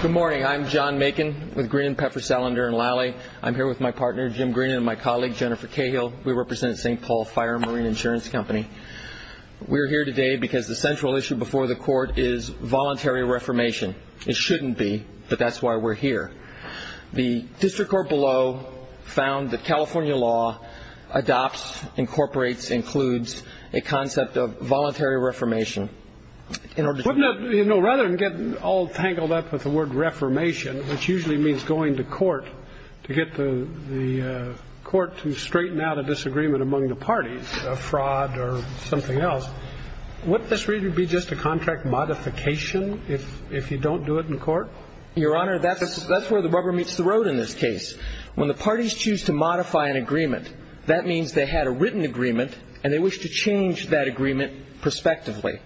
Good morning, I'm John Macon with Green & Pepper, Salander & Lally. I'm here with my partner Jim Green and my colleague Jennifer Cahill. We represent St. Paul Fire & Marine Insurance Company. We're here today because the central issue before the court is voluntary reformation. It shouldn't be, but that's why we're here. The district court below found that California law adopts, incorporates, includes a concept of voluntary reformation in order to... Wouldn't it, you know, rather than get all tangled up with the word reformation, which usually means going to court to get the court to straighten out a disagreement among the parties, a fraud or something else, wouldn't this really be just a contract modification if you don't do it in court? Your Honor, that's where the rubber meets the road in this case. When the parties choose to modify an agreement, that means they had a written agreement and they wish to change that agreement prospectively.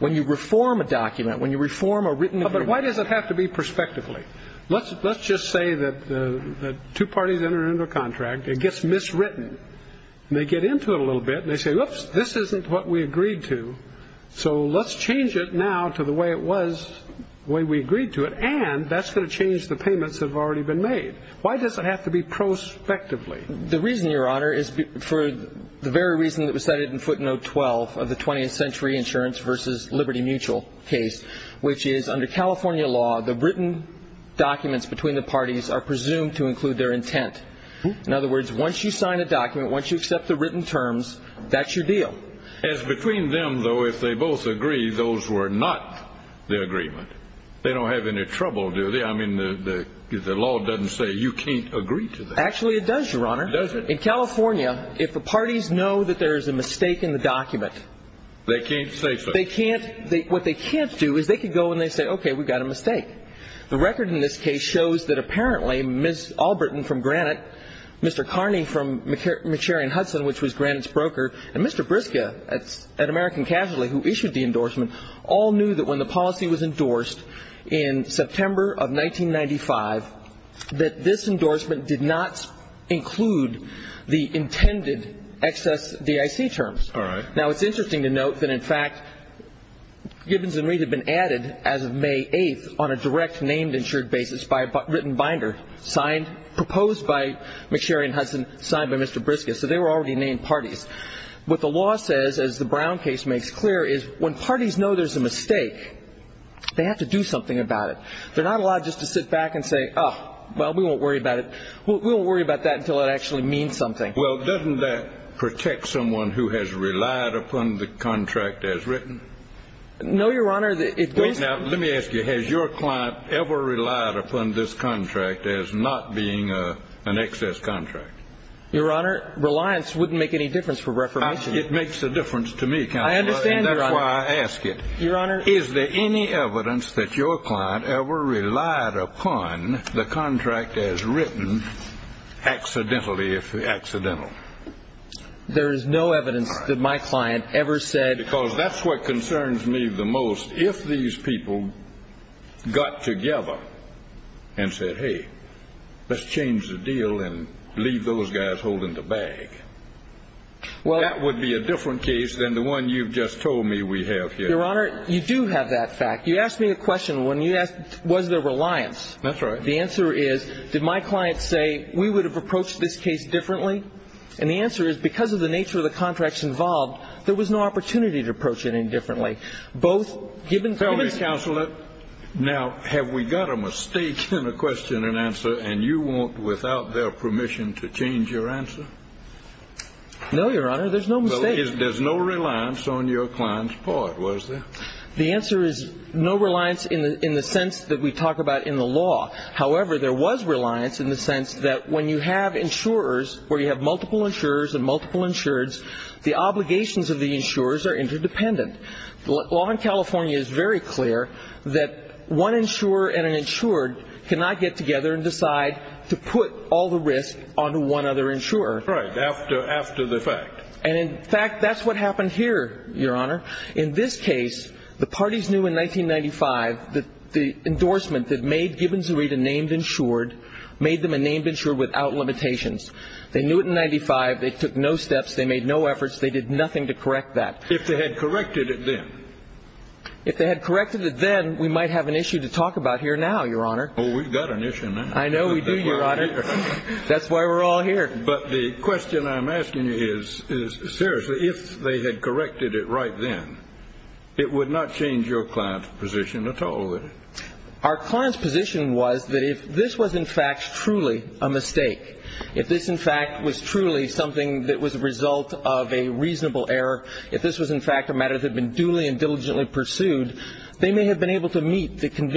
When you reform a document, when you reform a written agreement... But why does it have to be prospectively? Let's just say that two parties enter into a contract, it gets miswritten, and they get into it a little bit and they say, whoops, this isn't what we agreed to, so let's change it now to the way it was, the way we agreed to it, and that's going to change the payments that have already been made. Why does it have to be prospectively? The reason, Your Honor, is for the very reason that was cited in footnote 12 of the 20th century insurance versus Liberty Mutual case, which is under California law, the written documents between the parties are presumed to include their intent. In other words, once you sign a document, once you accept the written terms, that's your deal. As between them, though, if they both agree, those were not the agreement. They don't have any trouble, do they? I mean, the law doesn't say you can't agree to that. Actually, it does, Your Honor. It does. In California, if the parties know that there is a mistake in the document, they can't say so. They can't. What they can't do is they can go and they say, okay, we got a mistake. The record in this case shows that apparently Ms. Allbritton from Granite, Mr. Carney from McCarran-Hudson, which was Granite's broker, and Mr. Briska at American Casualty, who issued the endorsement, all knew that when the policy was endorsed in September of 1995, that this would not include the intended excess DIC terms. All right. Now, it's interesting to note that, in fact, Gibbons and Reed had been added as of May 8th on a direct named insured basis by a written binder signed, proposed by McSherry and Hudson, signed by Mr. Briska. So they were already named parties. What the law says, as the Brown case makes clear, is when parties know there's a mistake, they have to do something about it. They're not allowed just to sit back and say, oh, well, we won't worry about it. We won't worry about that until it actually means something. Well, doesn't that protect someone who has relied upon the contract as written? No, Your Honor, it doesn't. Now, let me ask you, has your client ever relied upon this contract as not being an excess contract? Your Honor, reliance wouldn't make any difference for reformation. It makes a difference to me, Counselor. I understand, Your Honor. And that's why I ask it. Your Honor. Is there any evidence that your client ever relied upon the contract as written accidentally if accidental? There is no evidence that my client ever said... Because that's what concerns me the most. If these people got together and said, hey, let's change the deal and leave those guys holding the bag, that would be a different case than the one you've just told me we have here. Your Honor, you do have that fact. You asked me a question when you asked, was there reliance? That's right. The answer is, did my client say, we would have approached this case differently? And the answer is, because of the nature of the contracts involved, there was no opportunity to approach it any differently, both given... Tell me, Counselor, now, have we got a mistake in a question and answer and you want, without their permission, to change your answer? No, Your Honor, there's no mistake. There's no reliance on your client's part, was there? The answer is, no reliance in the sense that we talk about in the law. However, there was reliance in the sense that when you have insurers, where you have multiple insurers and multiple insureds, the obligations of the insurers are interdependent. The law in California is very clear that one insurer and an insured cannot get together and decide to put all the risk onto one other insurer. Right, after the fact. And in fact, that's what happened here, Your Honor. In this case, the parties knew in 1995 that the endorsement that made Gibbons and Reid a named insured made them a named insured without limitations. They knew it in 1995, they took no steps, they made no efforts, they did nothing to correct that. If they had corrected it then. If they had corrected it then, we might have an issue to talk about here now, Your Honor. Oh, we've got an issue now. I know we do, Your Honor. That's why we're all here. But the question I'm asking you is, seriously, if they had corrected it right then, it would not change your client's position at all, would it? Our client's position was that if this was in fact truly a mistake, if this in fact was truly something that was a result of a reasonable error, if this was in fact a matter that had been duly and diligently pursued, they may have been able to meet the clear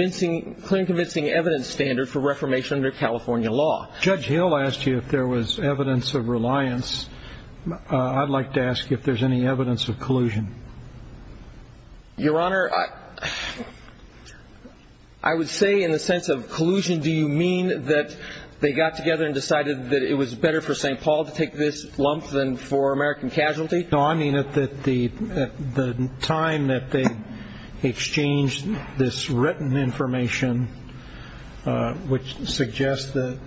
and convincing evidence standard for reformation under California law. Judge Hill asked you if there was evidence of reliance. I'd like to ask if there's any evidence of collusion. Your Honor, I would say in the sense of collusion, do you mean that they got together and decided that it was better for St. Paul to take this lump than for American Casualty? No, I mean that the time that they exchanged this written information, which suggests that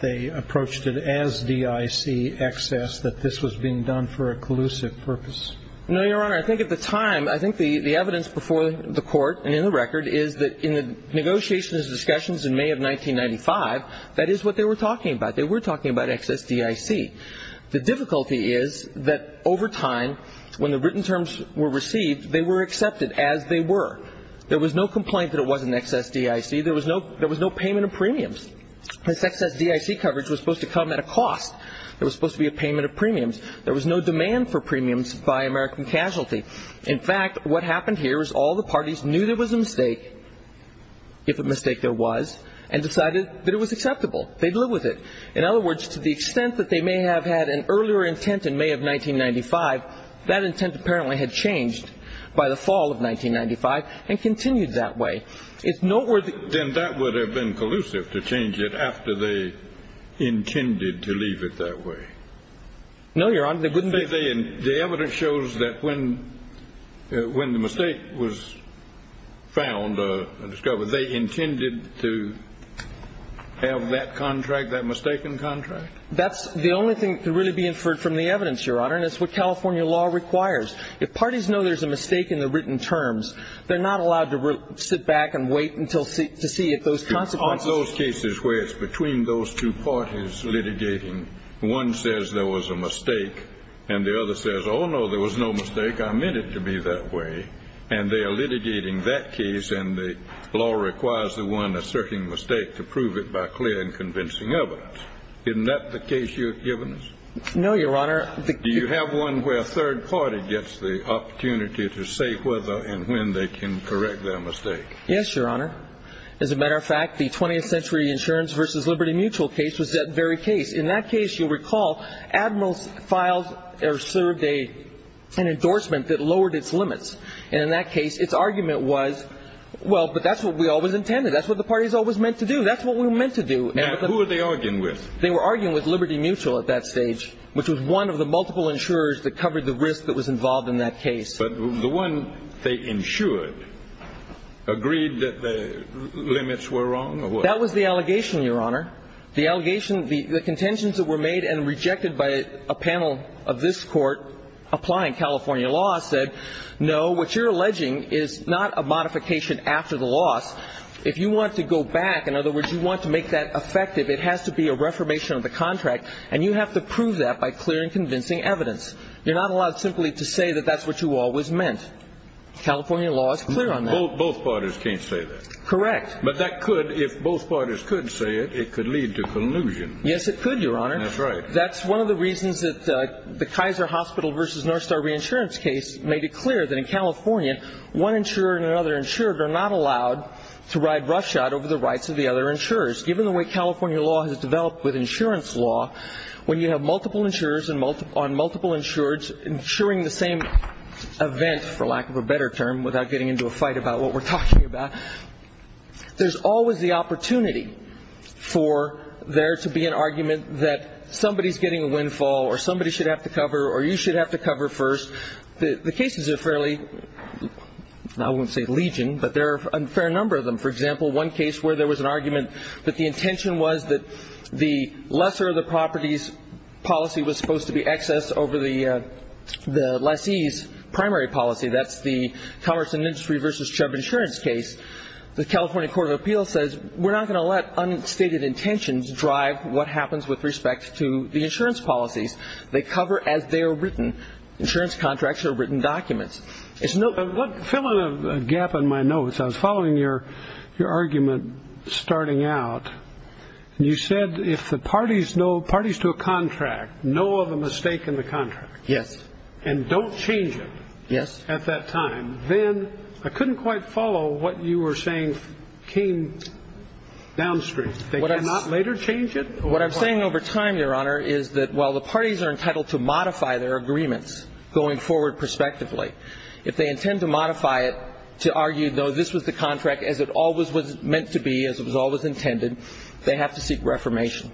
they approached it as DIC excess, that this was being done for a collusive purpose. No, Your Honor. I think at the time, I think the evidence before the court and in the record is that in the negotiations and discussions in May of 1995, that is what they were talking about. They were talking about excess DIC. The difficulty is that over time, when the written terms were received, they were accepted as they were. There was no complaint that it wasn't excess DIC. There was no payment of premiums. This excess DIC coverage was supposed to come at a cost. There was supposed to be a payment of premiums. There was no demand for premiums by American Casualty. In fact, what happened here is all the parties knew there was a mistake, if a mistake there was, and decided that it was acceptable. They'd live with it. In other words, to the extent that they may have had an earlier intent in May of 1995, that intent apparently had changed by the fall of 1995 and continued that way. It's noteworthy. Then that would have been collusive to change it after they intended to leave it that way. No, Your Honor, they wouldn't. The evidence shows that when when the mistake was found, discovered, they intended to have that contract, that mistaken contract. That's the only thing to really be inferred from the evidence, Your Honor. And it's what California law requires. If parties know there's a mistake in the written terms, they're not allowed to sit back and wait until to see if those consequences. On those cases where it's between those two parties litigating, one says there was a mistake and the other says, oh, no, there was no mistake. I meant it to be that way. And they are litigating that case. And the law requires the one asserting mistake to prove it by clear and convincing evidence. Isn't that the case you've given us? No, Your Honor. Do you have one where a third party gets the opportunity to say whether and when they can correct their mistake? Yes, Your Honor. As a matter of fact, the 20th century insurance versus Liberty Mutual case was that very case. In that case, you'll recall Admiral Files served an endorsement that lowered its limits. And in that case, its argument was, well, but that's what we always intended. That's what the party is always meant to do. That's what we were meant to do. Now, who are they arguing with? They were arguing with Liberty Mutual at that stage, which was one of the multiple insurers that covered the risk that was involved in that case. But the one they insured agreed that the limits were wrong. That was the allegation, Your Honor. The allegation, the contentions that were made and rejected by a panel of this court applying California law said, no, what you're alleging is not a modification after the loss. If you want to go back, in other words, you want to make that effective. It has to be a reformation of the contract. And you have to prove that by clear and convincing evidence. You're not allowed simply to say that that's what you always meant. California law is clear on that. Both parties can't say that. Correct. But that could, if both parties could say it, it could lead to collusion. Yes, it could, Your Honor. That's right. That's one of the reasons that the Kaiser Hospital versus Northstar Reinsurance case made it clear that in California, one insurer and another insured are not allowed to ride roughshod over the rights of the other insurers. Given the way California law has developed with insurance law, when you have multiple insurers on multiple insureds insuring the same event, for lack of a better term, without getting into a fight about what we're talking about, there's always the opportunity for there to be an argument that somebody is getting a windfall or somebody should have to cover or you should have to cover first. The cases are fairly, I won't say legion, but there are a fair number of them. For example, one case where there was an argument that the intention was that the lesser of the properties policy was supposed to be excess over the lessee's primary policy. That's the Commerce and Industry versus Chubb insurance case. The California Court of Appeals says we're not going to let unstated intentions drive what happens with respect to the insurance policies they cover as they are written. Insurance contracts are written documents. It's not filling a gap in my notes. I was following your your argument starting out. You said if the parties know parties to a contract, know of a mistake in the contract. Yes. And don't change it. Yes. At that time, then I couldn't quite follow what you were saying came downstream. They cannot later change it. What I'm saying over time, Your Honor, is that while the parties are entitled to modify their agreements going forward, prospectively, if they intend to modify it to argue, though this was the contract as it always was meant to be, as it was always intended, they have to seek reformation.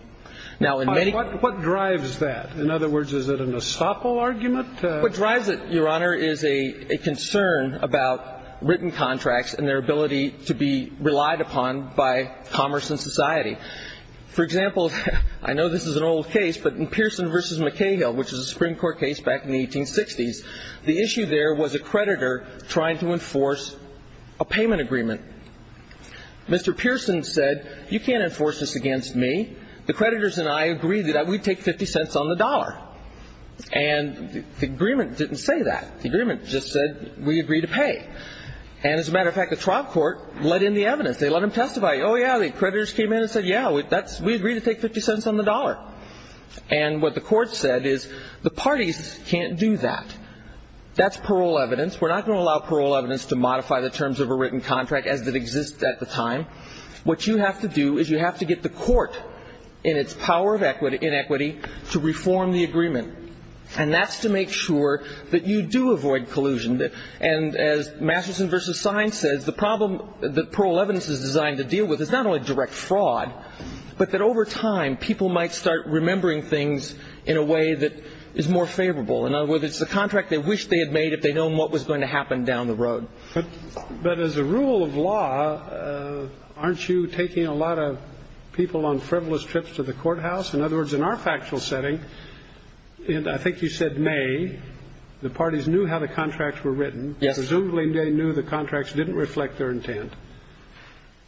Now, what drives that? In other words, is it an estoppel argument? What drives it, Your Honor, is a concern about written contracts and their ability to be relied upon by commerce and society. For example, I know this is an old case, but in Pearson versus McHale, which is a Supreme Court case back in the 1860s, the issue there was a creditor trying to enforce a payment agreement. Mr. Pearson said, you can't enforce this against me. The creditors and I agreed that we'd take 50 cents on the dollar. And the agreement didn't say that. The agreement just said we agree to pay. And as a matter of fact, the trial court let in the evidence. They let him testify. Oh, yeah. The creditors came in and said, yeah, that's we agree to take 50 cents on the dollar. And what the court said is the parties can't do that. That's parole evidence. We're not going to allow parole evidence to modify the terms of a written contract as it exists at the time. What you have to do is you have to get the court in its power of equity in equity to reform the agreement. And that's to make sure that you do avoid collusion. And as Masterson versus Sines says, the problem that parole evidence is designed to deal with is not only direct fraud, but that over time people might start remembering things in a way that is more favorable. In other words, it's the contract they wish they had made if they know what was going to happen down the road. But as a rule of law, aren't you taking a lot of people on frivolous trips to the courthouse? In other words, in our factual setting, and I think you said may the parties knew how the contracts were written. Yes. Presumably they knew the contracts didn't reflect their intent.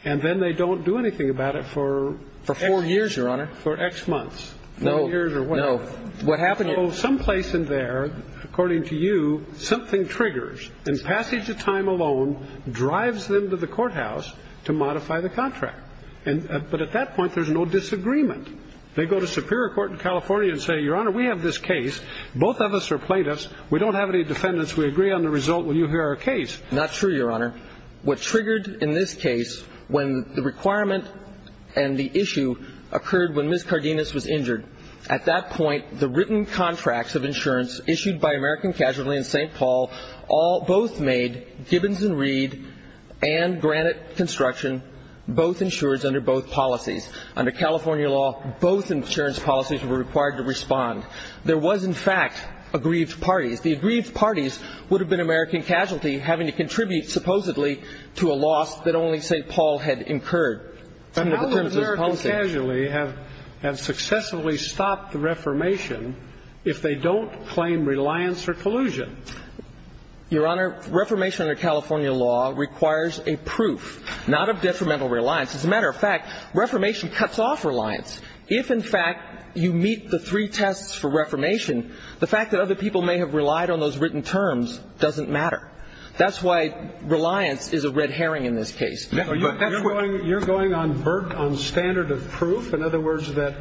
And then they don't do anything about it for four years, Your Honor, for X months, no years or what happened. So some place in there, according to you, something triggers and passage of time alone drives them to the courthouse to modify the contract. And but at that point, there's no disagreement. They go to Superior Court in California and say, Your Honor, we have this case. Both of us are plaintiffs. We don't have any defendants. We agree on the result. Will you hear our case? Not true, Your Honor. What triggered in this case when the requirement and the issue occurred when Ms. Cardenas was injured at that point, the written contracts of insurance issued by American Casualty in St. Paul, all both made Gibbons and Reed and Granite Construction, both insured under both policies. Under California law, both insurance policies were required to respond. There was, in fact, aggrieved parties. The aggrieved parties would have been American Casualty having to contribute supposedly to a loss that only St. Paul had incurred. And how would American Casualty have successfully stopped the reformation if they don't claim reliance or collusion? Your Honor, reformation under California law requires a proof, not of detrimental reliance. As a matter of fact, reformation cuts off reliance. If, in fact, you meet the three tests for reformation, the fact that other people may have relied on those written terms doesn't matter. That's why reliance is a red herring in this case. You're going on vert on standard of proof. In other words, that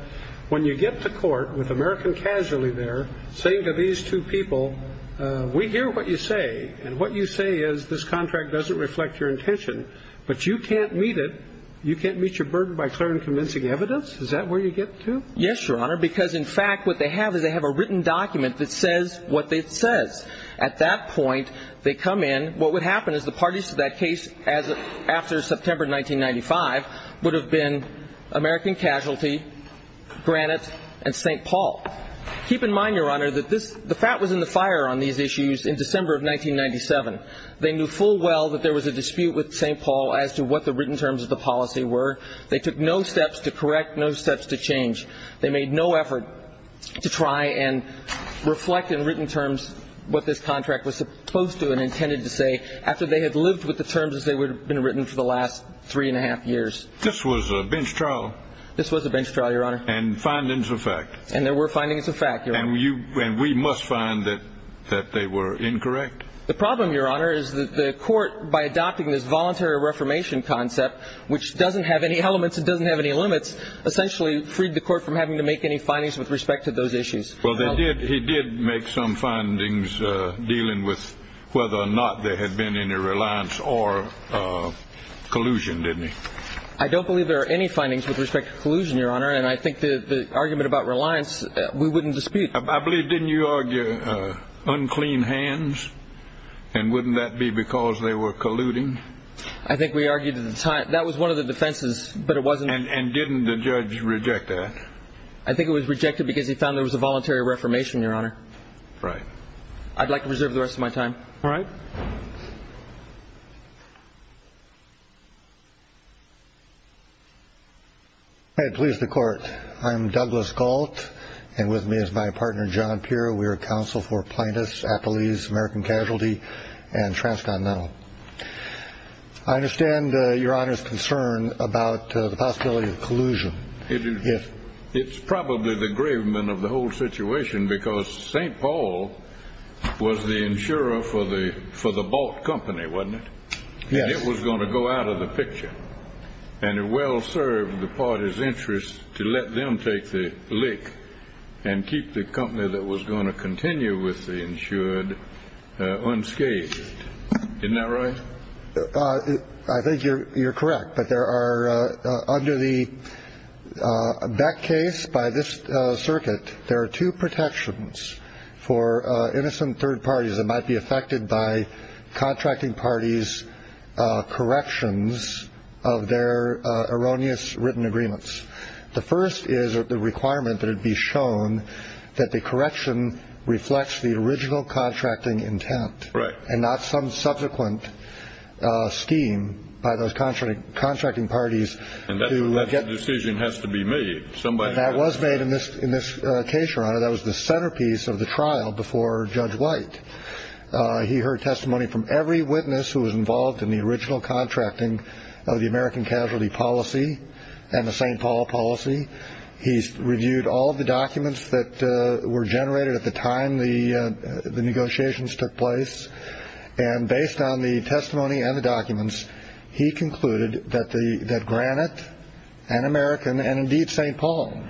when you get to court with American Casualty, they're saying to these two people, we hear what you say and what you say is this contract doesn't reflect your intention, but you can't meet it. You can't meet your burden by clear and convincing evidence. Is that where you get to? Yes, Your Honor. Because, in fact, what they have is they have a written document that says what it says. At that point, they come in. What would happen is the parties to that case as after September 1995 would have been American Casualty, Granite, and St. Paul. Keep in mind, Your Honor, that the fat was in the fire on these issues in December of 1997. They knew full well that there was a dispute with St. Paul as to what the written terms of the policy were. They took no steps to correct, no steps to change. They made no effort to try and reflect in written terms what this contract was supposed to and intended to say after they had lived with the terms as they would have been written for the last three and a half years. This was a bench trial. This was a bench trial, Your Honor. And findings of fact. And there were findings of fact, Your Honor. And we must find that they were incorrect. The problem, Your Honor, is that the court, by adopting this voluntary reformation concept, which doesn't have any elements, it doesn't have any limits, essentially freed the court from having to make any findings with respect to those issues. Well, they did. He did make some findings dealing with whether or not there had been any reliance or collusion, didn't he? I don't believe there are any findings with respect to collusion, Your Honor. And I think the argument about reliance, we wouldn't dispute. I believe, didn't you argue unclean hands? And wouldn't that be because they were colluding? I think we argued at the time that was one of the defenses, but it wasn't. And didn't the judge reject that? I think it was rejected because he found there was a voluntary reformation, Your Honor. Right. I'd like to reserve the rest of my time. All right. I please the court. I'm Douglas Gault. And with me is my partner, John Peer. We are counsel for plaintiffs, applies, American casualty and transcontinental. I understand your honor's concern about the possibility of collusion if it's probably the gravement of the whole situation, because St. Paul was the insurer for the for the bought company, wasn't it? Yeah, it was going to go out of the picture and it well served the party's interest to let them take the lick and keep the company that was going to continue with the insured unscathed. Isn't that right? I think you're correct. But there are under the Beck case by this circuit, there are two protections for innocent third parties that might be affected by contracting parties corrections of their erroneous written agreements. The first is the requirement that it be shown that the correction reflects the original contracting intent and not some subsequent scheme by those contracting parties. And that decision has to be made. Somebody that was made in this in this case, your honor, that was the centerpiece of the trial before Judge White. He heard testimony from every witness who was involved in the original contracting of the American casualty policy and the St. Paul policy. He's reviewed all of the documents that were generated at the time the negotiations took place. And based on the testimony and the documents, he concluded that the that Granite and American and indeed St. Paul,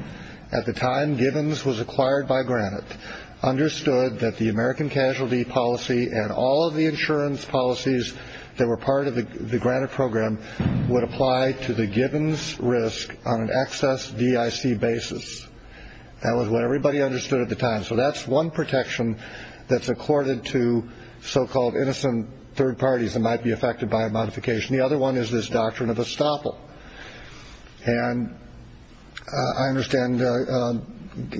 at the time Gibbons was acquired by Granite, understood that the American casualty policy and all of the insurance policies that were part of the Granite program would apply to the Gibbons risk on an excess D.I.C. basis. That was what everybody understood at the time. So that's one protection that's accorded to so-called innocent third parties that might be affected by a modification. The other one is this doctrine of estoppel. And I understand the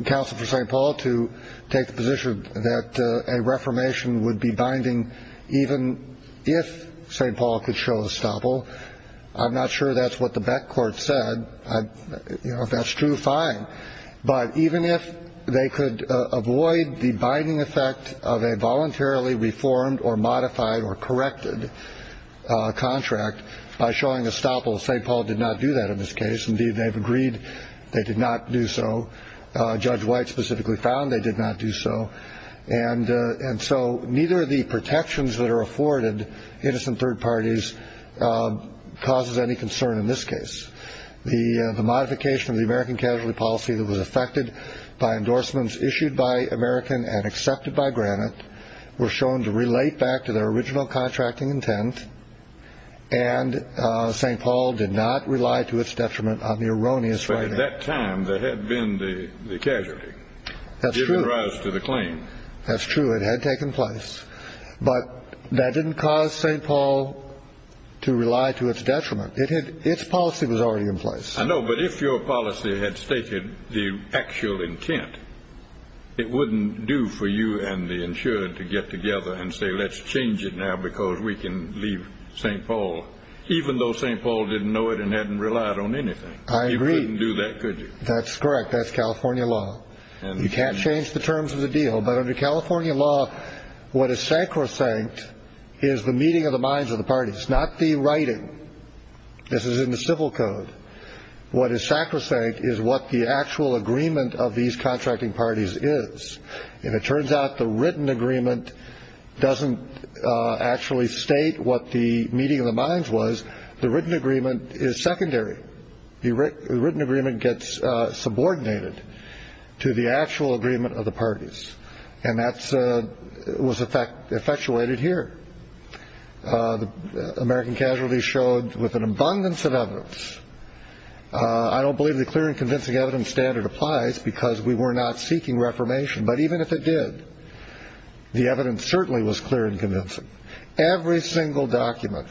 counsel for St. Paul to take the position that a reformation would be binding even if St. Paul could show a stopper. I'm not sure that's what the back court said. That's true. Fine. But even if they could avoid the binding effect of a voluntarily reformed or modified or corrected contract by showing a stopper, St. Paul did not do that in this case. Indeed, they've agreed they did not do so. Judge White specifically found they did not do so. And and so neither of the protections that are afforded innocent third parties causes any concern in this case. The modification of the American casualty policy that was affected by endorsements issued by American and accepted by Granite were shown to relate back to their original contracting intent. And St. Paul did not rely to its detriment on the erroneous. At that time, there had been the casualty that's given rise to the claim. That's true. It had taken place. But that didn't cause St. Paul to rely to its detriment. It had its policy was already in place. I know. But if your policy had stated the actual intent, it wouldn't do for you and the insured to get together and say, let's change it now because we can leave St. Paul, even though St. Paul didn't know it and hadn't relied on anything. I agree. You couldn't do that, could you? That's correct. That's California law. And you can't change the terms of the deal. But under California law, what is sacrosanct is the meeting of the minds of the parties, not the writing. This is in the civil code. What is sacrosanct is what the actual agreement of these contracting parties is. And it turns out the written agreement doesn't actually state what the meeting of the minds was. The written agreement is secondary. The written agreement gets subordinated to the actual agreement of the parties. And that was effectuated here. The American casualties showed with an abundance of evidence. I don't believe the clear and convincing evidence standard applies because we were not seeking reformation. But even if it did, the evidence certainly was clear and convincing. Every single document,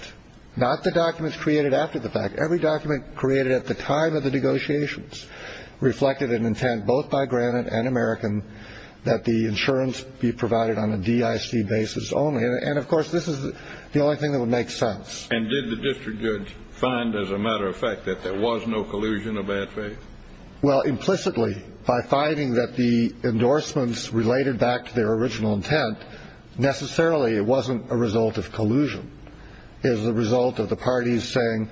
not the documents created after the fact, every document created at the time of the negotiations reflected an intent both by Granite and American that the insurance be provided on a D.I.C. basis only. And of course, this is the only thing that would make sense. And did the district judge find, as a matter of fact, that there was no collusion of bad faith? Well, implicitly, by finding that the endorsements related back to their original intent, necessarily it wasn't a result of collusion is the result of the parties saying,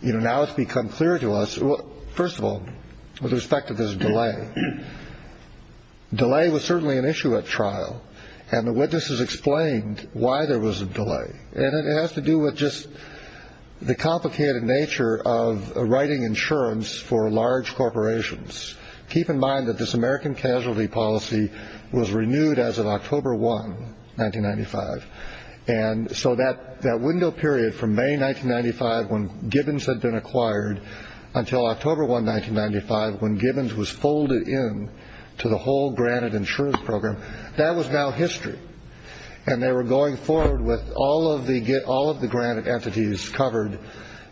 you know, now it's become clear to us, first of all, with respect to this delay. Delay was certainly an issue at trial, and the witnesses explained why there was a delay. And it has to do with just the complicated nature of writing insurance for large corporations. Keep in mind that this American casualty policy was renewed as of October 1, 1995. And so that that window period from May 1995, when Gibbons had been acquired until October 1, 1995, when Gibbons was folded in to the whole Granite insurance program, that was now history. And they were going forward with all of the get all of the Granite entities covered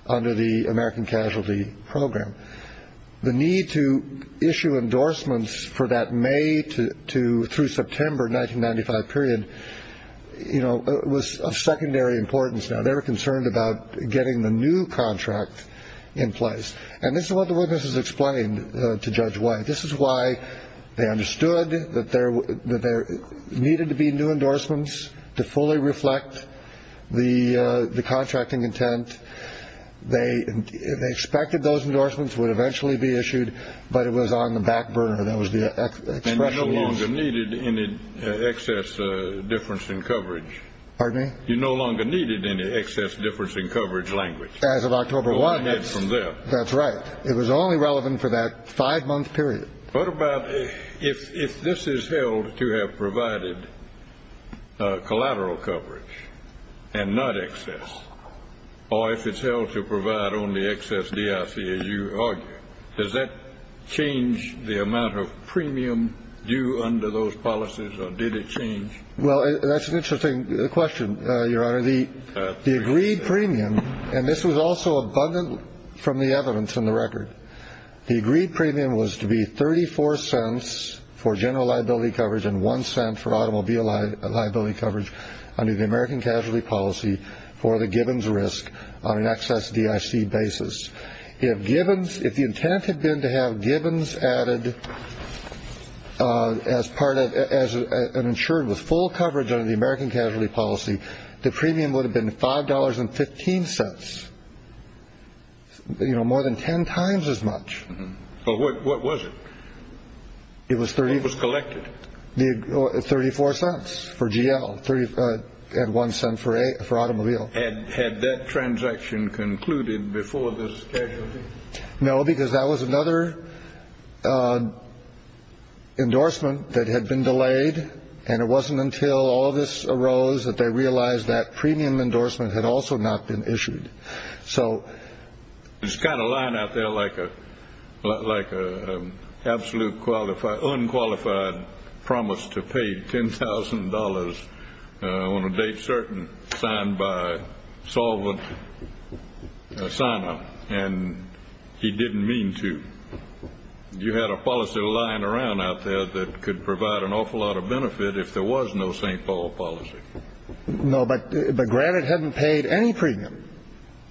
under the American casualty program. The need to issue endorsements for that may to to through September 1995 period, you know, was of secondary importance. Now, they were concerned about getting the new contract in place. And this is what the witnesses explained to Judge White. This is why they understood that there that there needed to be new endorsements to fully reflect the the contracting intent. They expected those endorsements would eventually be issued, but it was on the back burner. That was the expression. No longer needed any excess difference in coverage. Pardon me? You no longer needed any excess difference in coverage language as of October 1. That's from there. That's right. It was only relevant for that five month period. What about if this is held to have provided collateral coverage and not excess or if it's held to provide only excess DIC, as you argue, does that change the amount of premium due under those policies or did it change? Well, that's an interesting question, Your Honor. The the agreed premium and this was also abundant from the evidence in the record. The agreed premium was to be 34 cents for general liability coverage and one cent for automobile liability coverage under the American casualty policy for the Gibbons risk on an excess DIC basis. If Gibbons if the intent had been to have Gibbons added as part of as an insured with full coverage under the American casualty policy, the premium would have been five dollars and 15 cents. You know, more than 10 times as much. But what was it? It was 30 was collected the 34 cents for GL three and one cent for a for automobile. And had that transaction concluded before this? No, because that was another endorsement that had been delayed. And it wasn't until all of this arose that they realized that premium endorsement had also not been issued. So it's got a line out there like a like a absolute qualified, unqualified promise to pay ten thousand dollars on a date certain signed by solvent sign up and he didn't mean to. You had a policy lying around out there that could provide an awful lot of benefit if there was no St. Paul policy. No, but but granted, hadn't paid any premium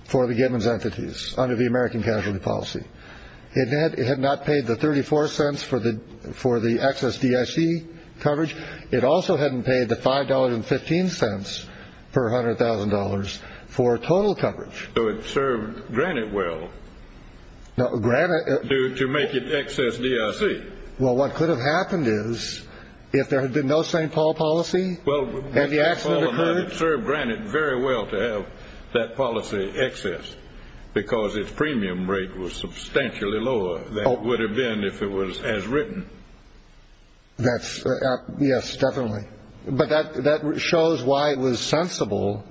for the Gibbons entities under the American casualty policy. It had not paid the 34 cents for the for the excess DIC coverage. It also hadn't paid the five dollars and 15 cents per hundred thousand dollars for total coverage. So it served granted. Well, granted to make it excess DIC. Well, what could have happened is if there had been no St. Paul policy. Well, have you actually served granted very well to have that policy excess because its premium rate was substantially lower than it would have been if it was as written. That's. Yes, definitely. But that that shows why it was sensible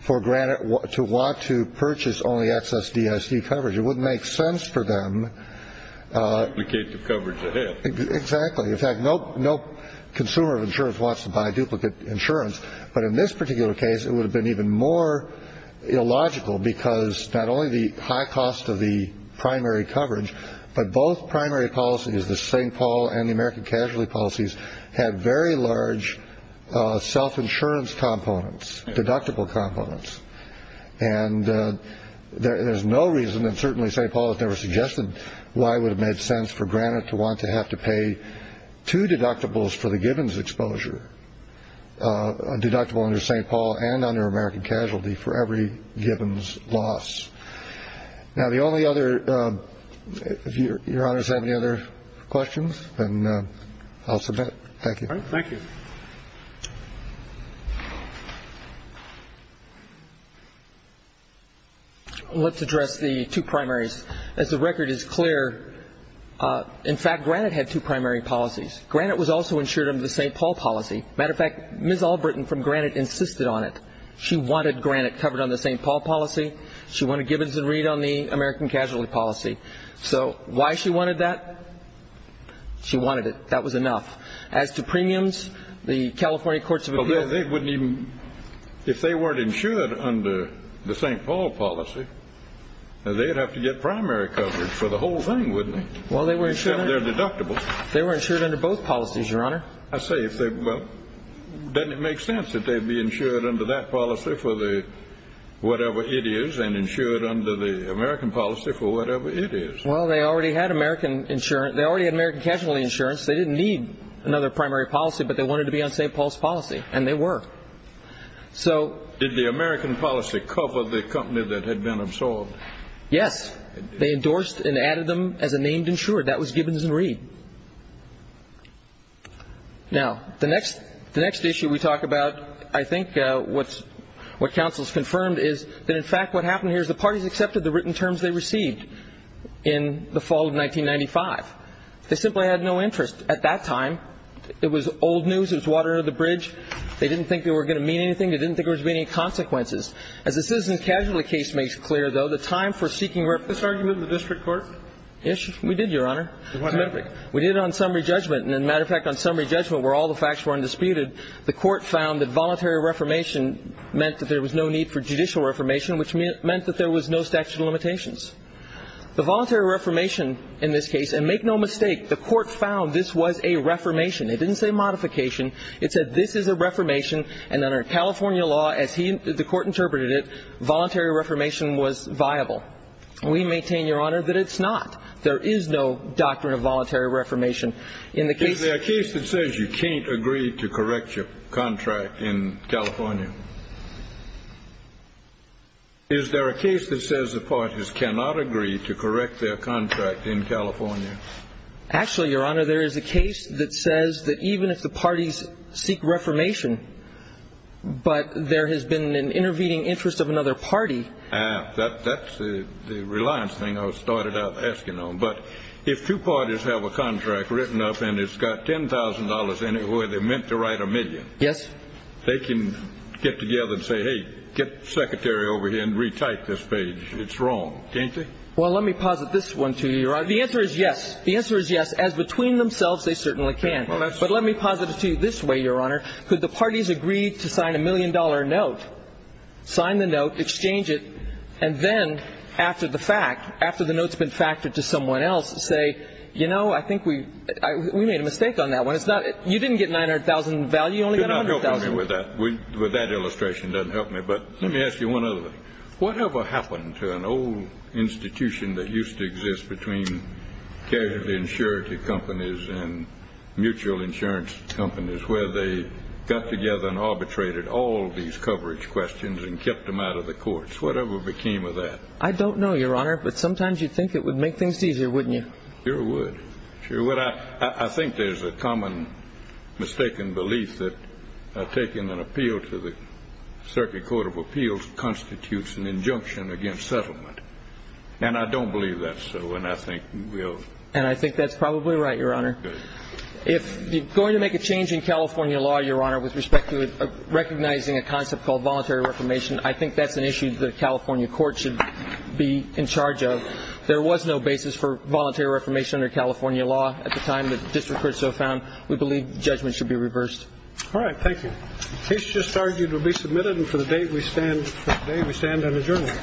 for granted to want to purchase only excess DIC coverage. It would make sense for them to get the coverage. Exactly. In fact, no, no consumer insurance wants to buy duplicate insurance. But in this particular case, it would have been even more illogical because not only the high cost of the primary coverage, but both primary policy is the St. Paul and the American casualty policies have very large self-insurance components, deductible components. And there is no reason and certainly St. Paul has never suggested why would have made sense for granted to want to have to pay two deductibles for the Gibbons exposure, a deductible under St. Paul and under American casualty for every Gibbons loss. Now, the only other if Your Honor's have any other questions and I'll submit. Thank you. Thank you. Let's address the two primaries, as the record is clear. In fact, Granite had two primary policies. Granite was also insured under the St. Paul policy. Matter of fact, Ms. Albritton from Granite insisted on it. She wanted Granite covered on the St. Paul policy. She wanted Gibbons and read on the American casualty policy. So why she wanted that, she wanted it. That was enough. As to premiums, the California courts of appeal, they wouldn't even if they weren't insured under the St. Paul policy, they'd have to get primary coverage for the whole thing, wouldn't they? Well, they were insured. They're deductible. They were insured under both policies, Your Honor. I say, well, doesn't it make sense that they'd be insured under that policy for the whatever it is and insured under the American policy for whatever it is? Well, they already had American insurance. They already had American casualty insurance. They didn't need another primary policy, but they wanted to be on St. Paul's policy. And they were. So did the American policy cover the company that had been absorbed? Yes, they endorsed and added them as a named insured. That was Gibbons and Reed. Now, the next the next issue we talk about, I think what's what counsel's confirmed is that in fact, what happened here is the parties accepted the written terms they received in the fall of 1995. They simply had no interest at that time. It was old news. It was water under the bridge. They didn't think they were going to mean anything. They didn't think there was any consequences. As the citizen casualty case makes clear, though, the time for seeking this argument in the district court. Yes, we did, Your Honor. We did it on summary judgment. And as a matter of fact, on summary judgment, where all the facts were undisputed, the court found that voluntary reformation meant that there was no need for judicial reformation, which meant that there was no statute of limitations. The voluntary reformation in this case, and make no mistake, the court found this was a reformation. It didn't say modification. It said this is a reformation. And under California law, as he the court interpreted it, voluntary reformation was viable. We maintain, Your Honor, that it's not. There is no doctrine of voluntary reformation in the case. Is there a case that says you can't agree to correct your contract in California? Is there a case that says the parties cannot agree to correct their contract in California? Actually, Your Honor, there is a case that says that even if the parties seek reformation, but there has been an intervening interest of another party. That's the reliance thing I started out asking on. But if two parties have a contract written up and it's got ten thousand dollars in it where they're meant to write a million. Yes. They can get together and say, hey, get secretary over here and retype this page. It's wrong, can't they? Well, let me posit this one to you. The answer is yes. The answer is yes. As between themselves, they certainly can. But let me posit it to you this way, Your Honor. Could the parties agree to sign a million dollar note, sign the note, exchange it? And then after the fact, after the note's been factored to someone else, say, you know, I think we we made a mistake on that one. You didn't get nine hundred thousand value. You only got a hundred thousand with that. With that illustration doesn't help me. But let me ask you one other thing. Whatever happened to an old institution that used to exist between casualty insurance companies and mutual insurance companies where they got together and arbitrated all these coverage questions and kept them out of the courts? Whatever became of that? I don't know, Your Honor. But sometimes you'd think it would make things easier, wouldn't you? Sure would. Sure would. I think there's a common mistaken belief that taking an appeal to the Circuit Court of Appeals constitutes an injunction against settlement. And I don't believe that's so. And I think we'll. And I think that's probably right, Your Honor. If you're going to make a change in California law, Your Honor, with respect to recognizing a concept called voluntary reformation, I think that's an issue that a California court should be in charge of. There was no basis for voluntary reformation under California law at the time the district court so found. We believe judgment should be reversed. All right. Thank you. Case just argued to be submitted. And for the date we stand, we stand on adjournment.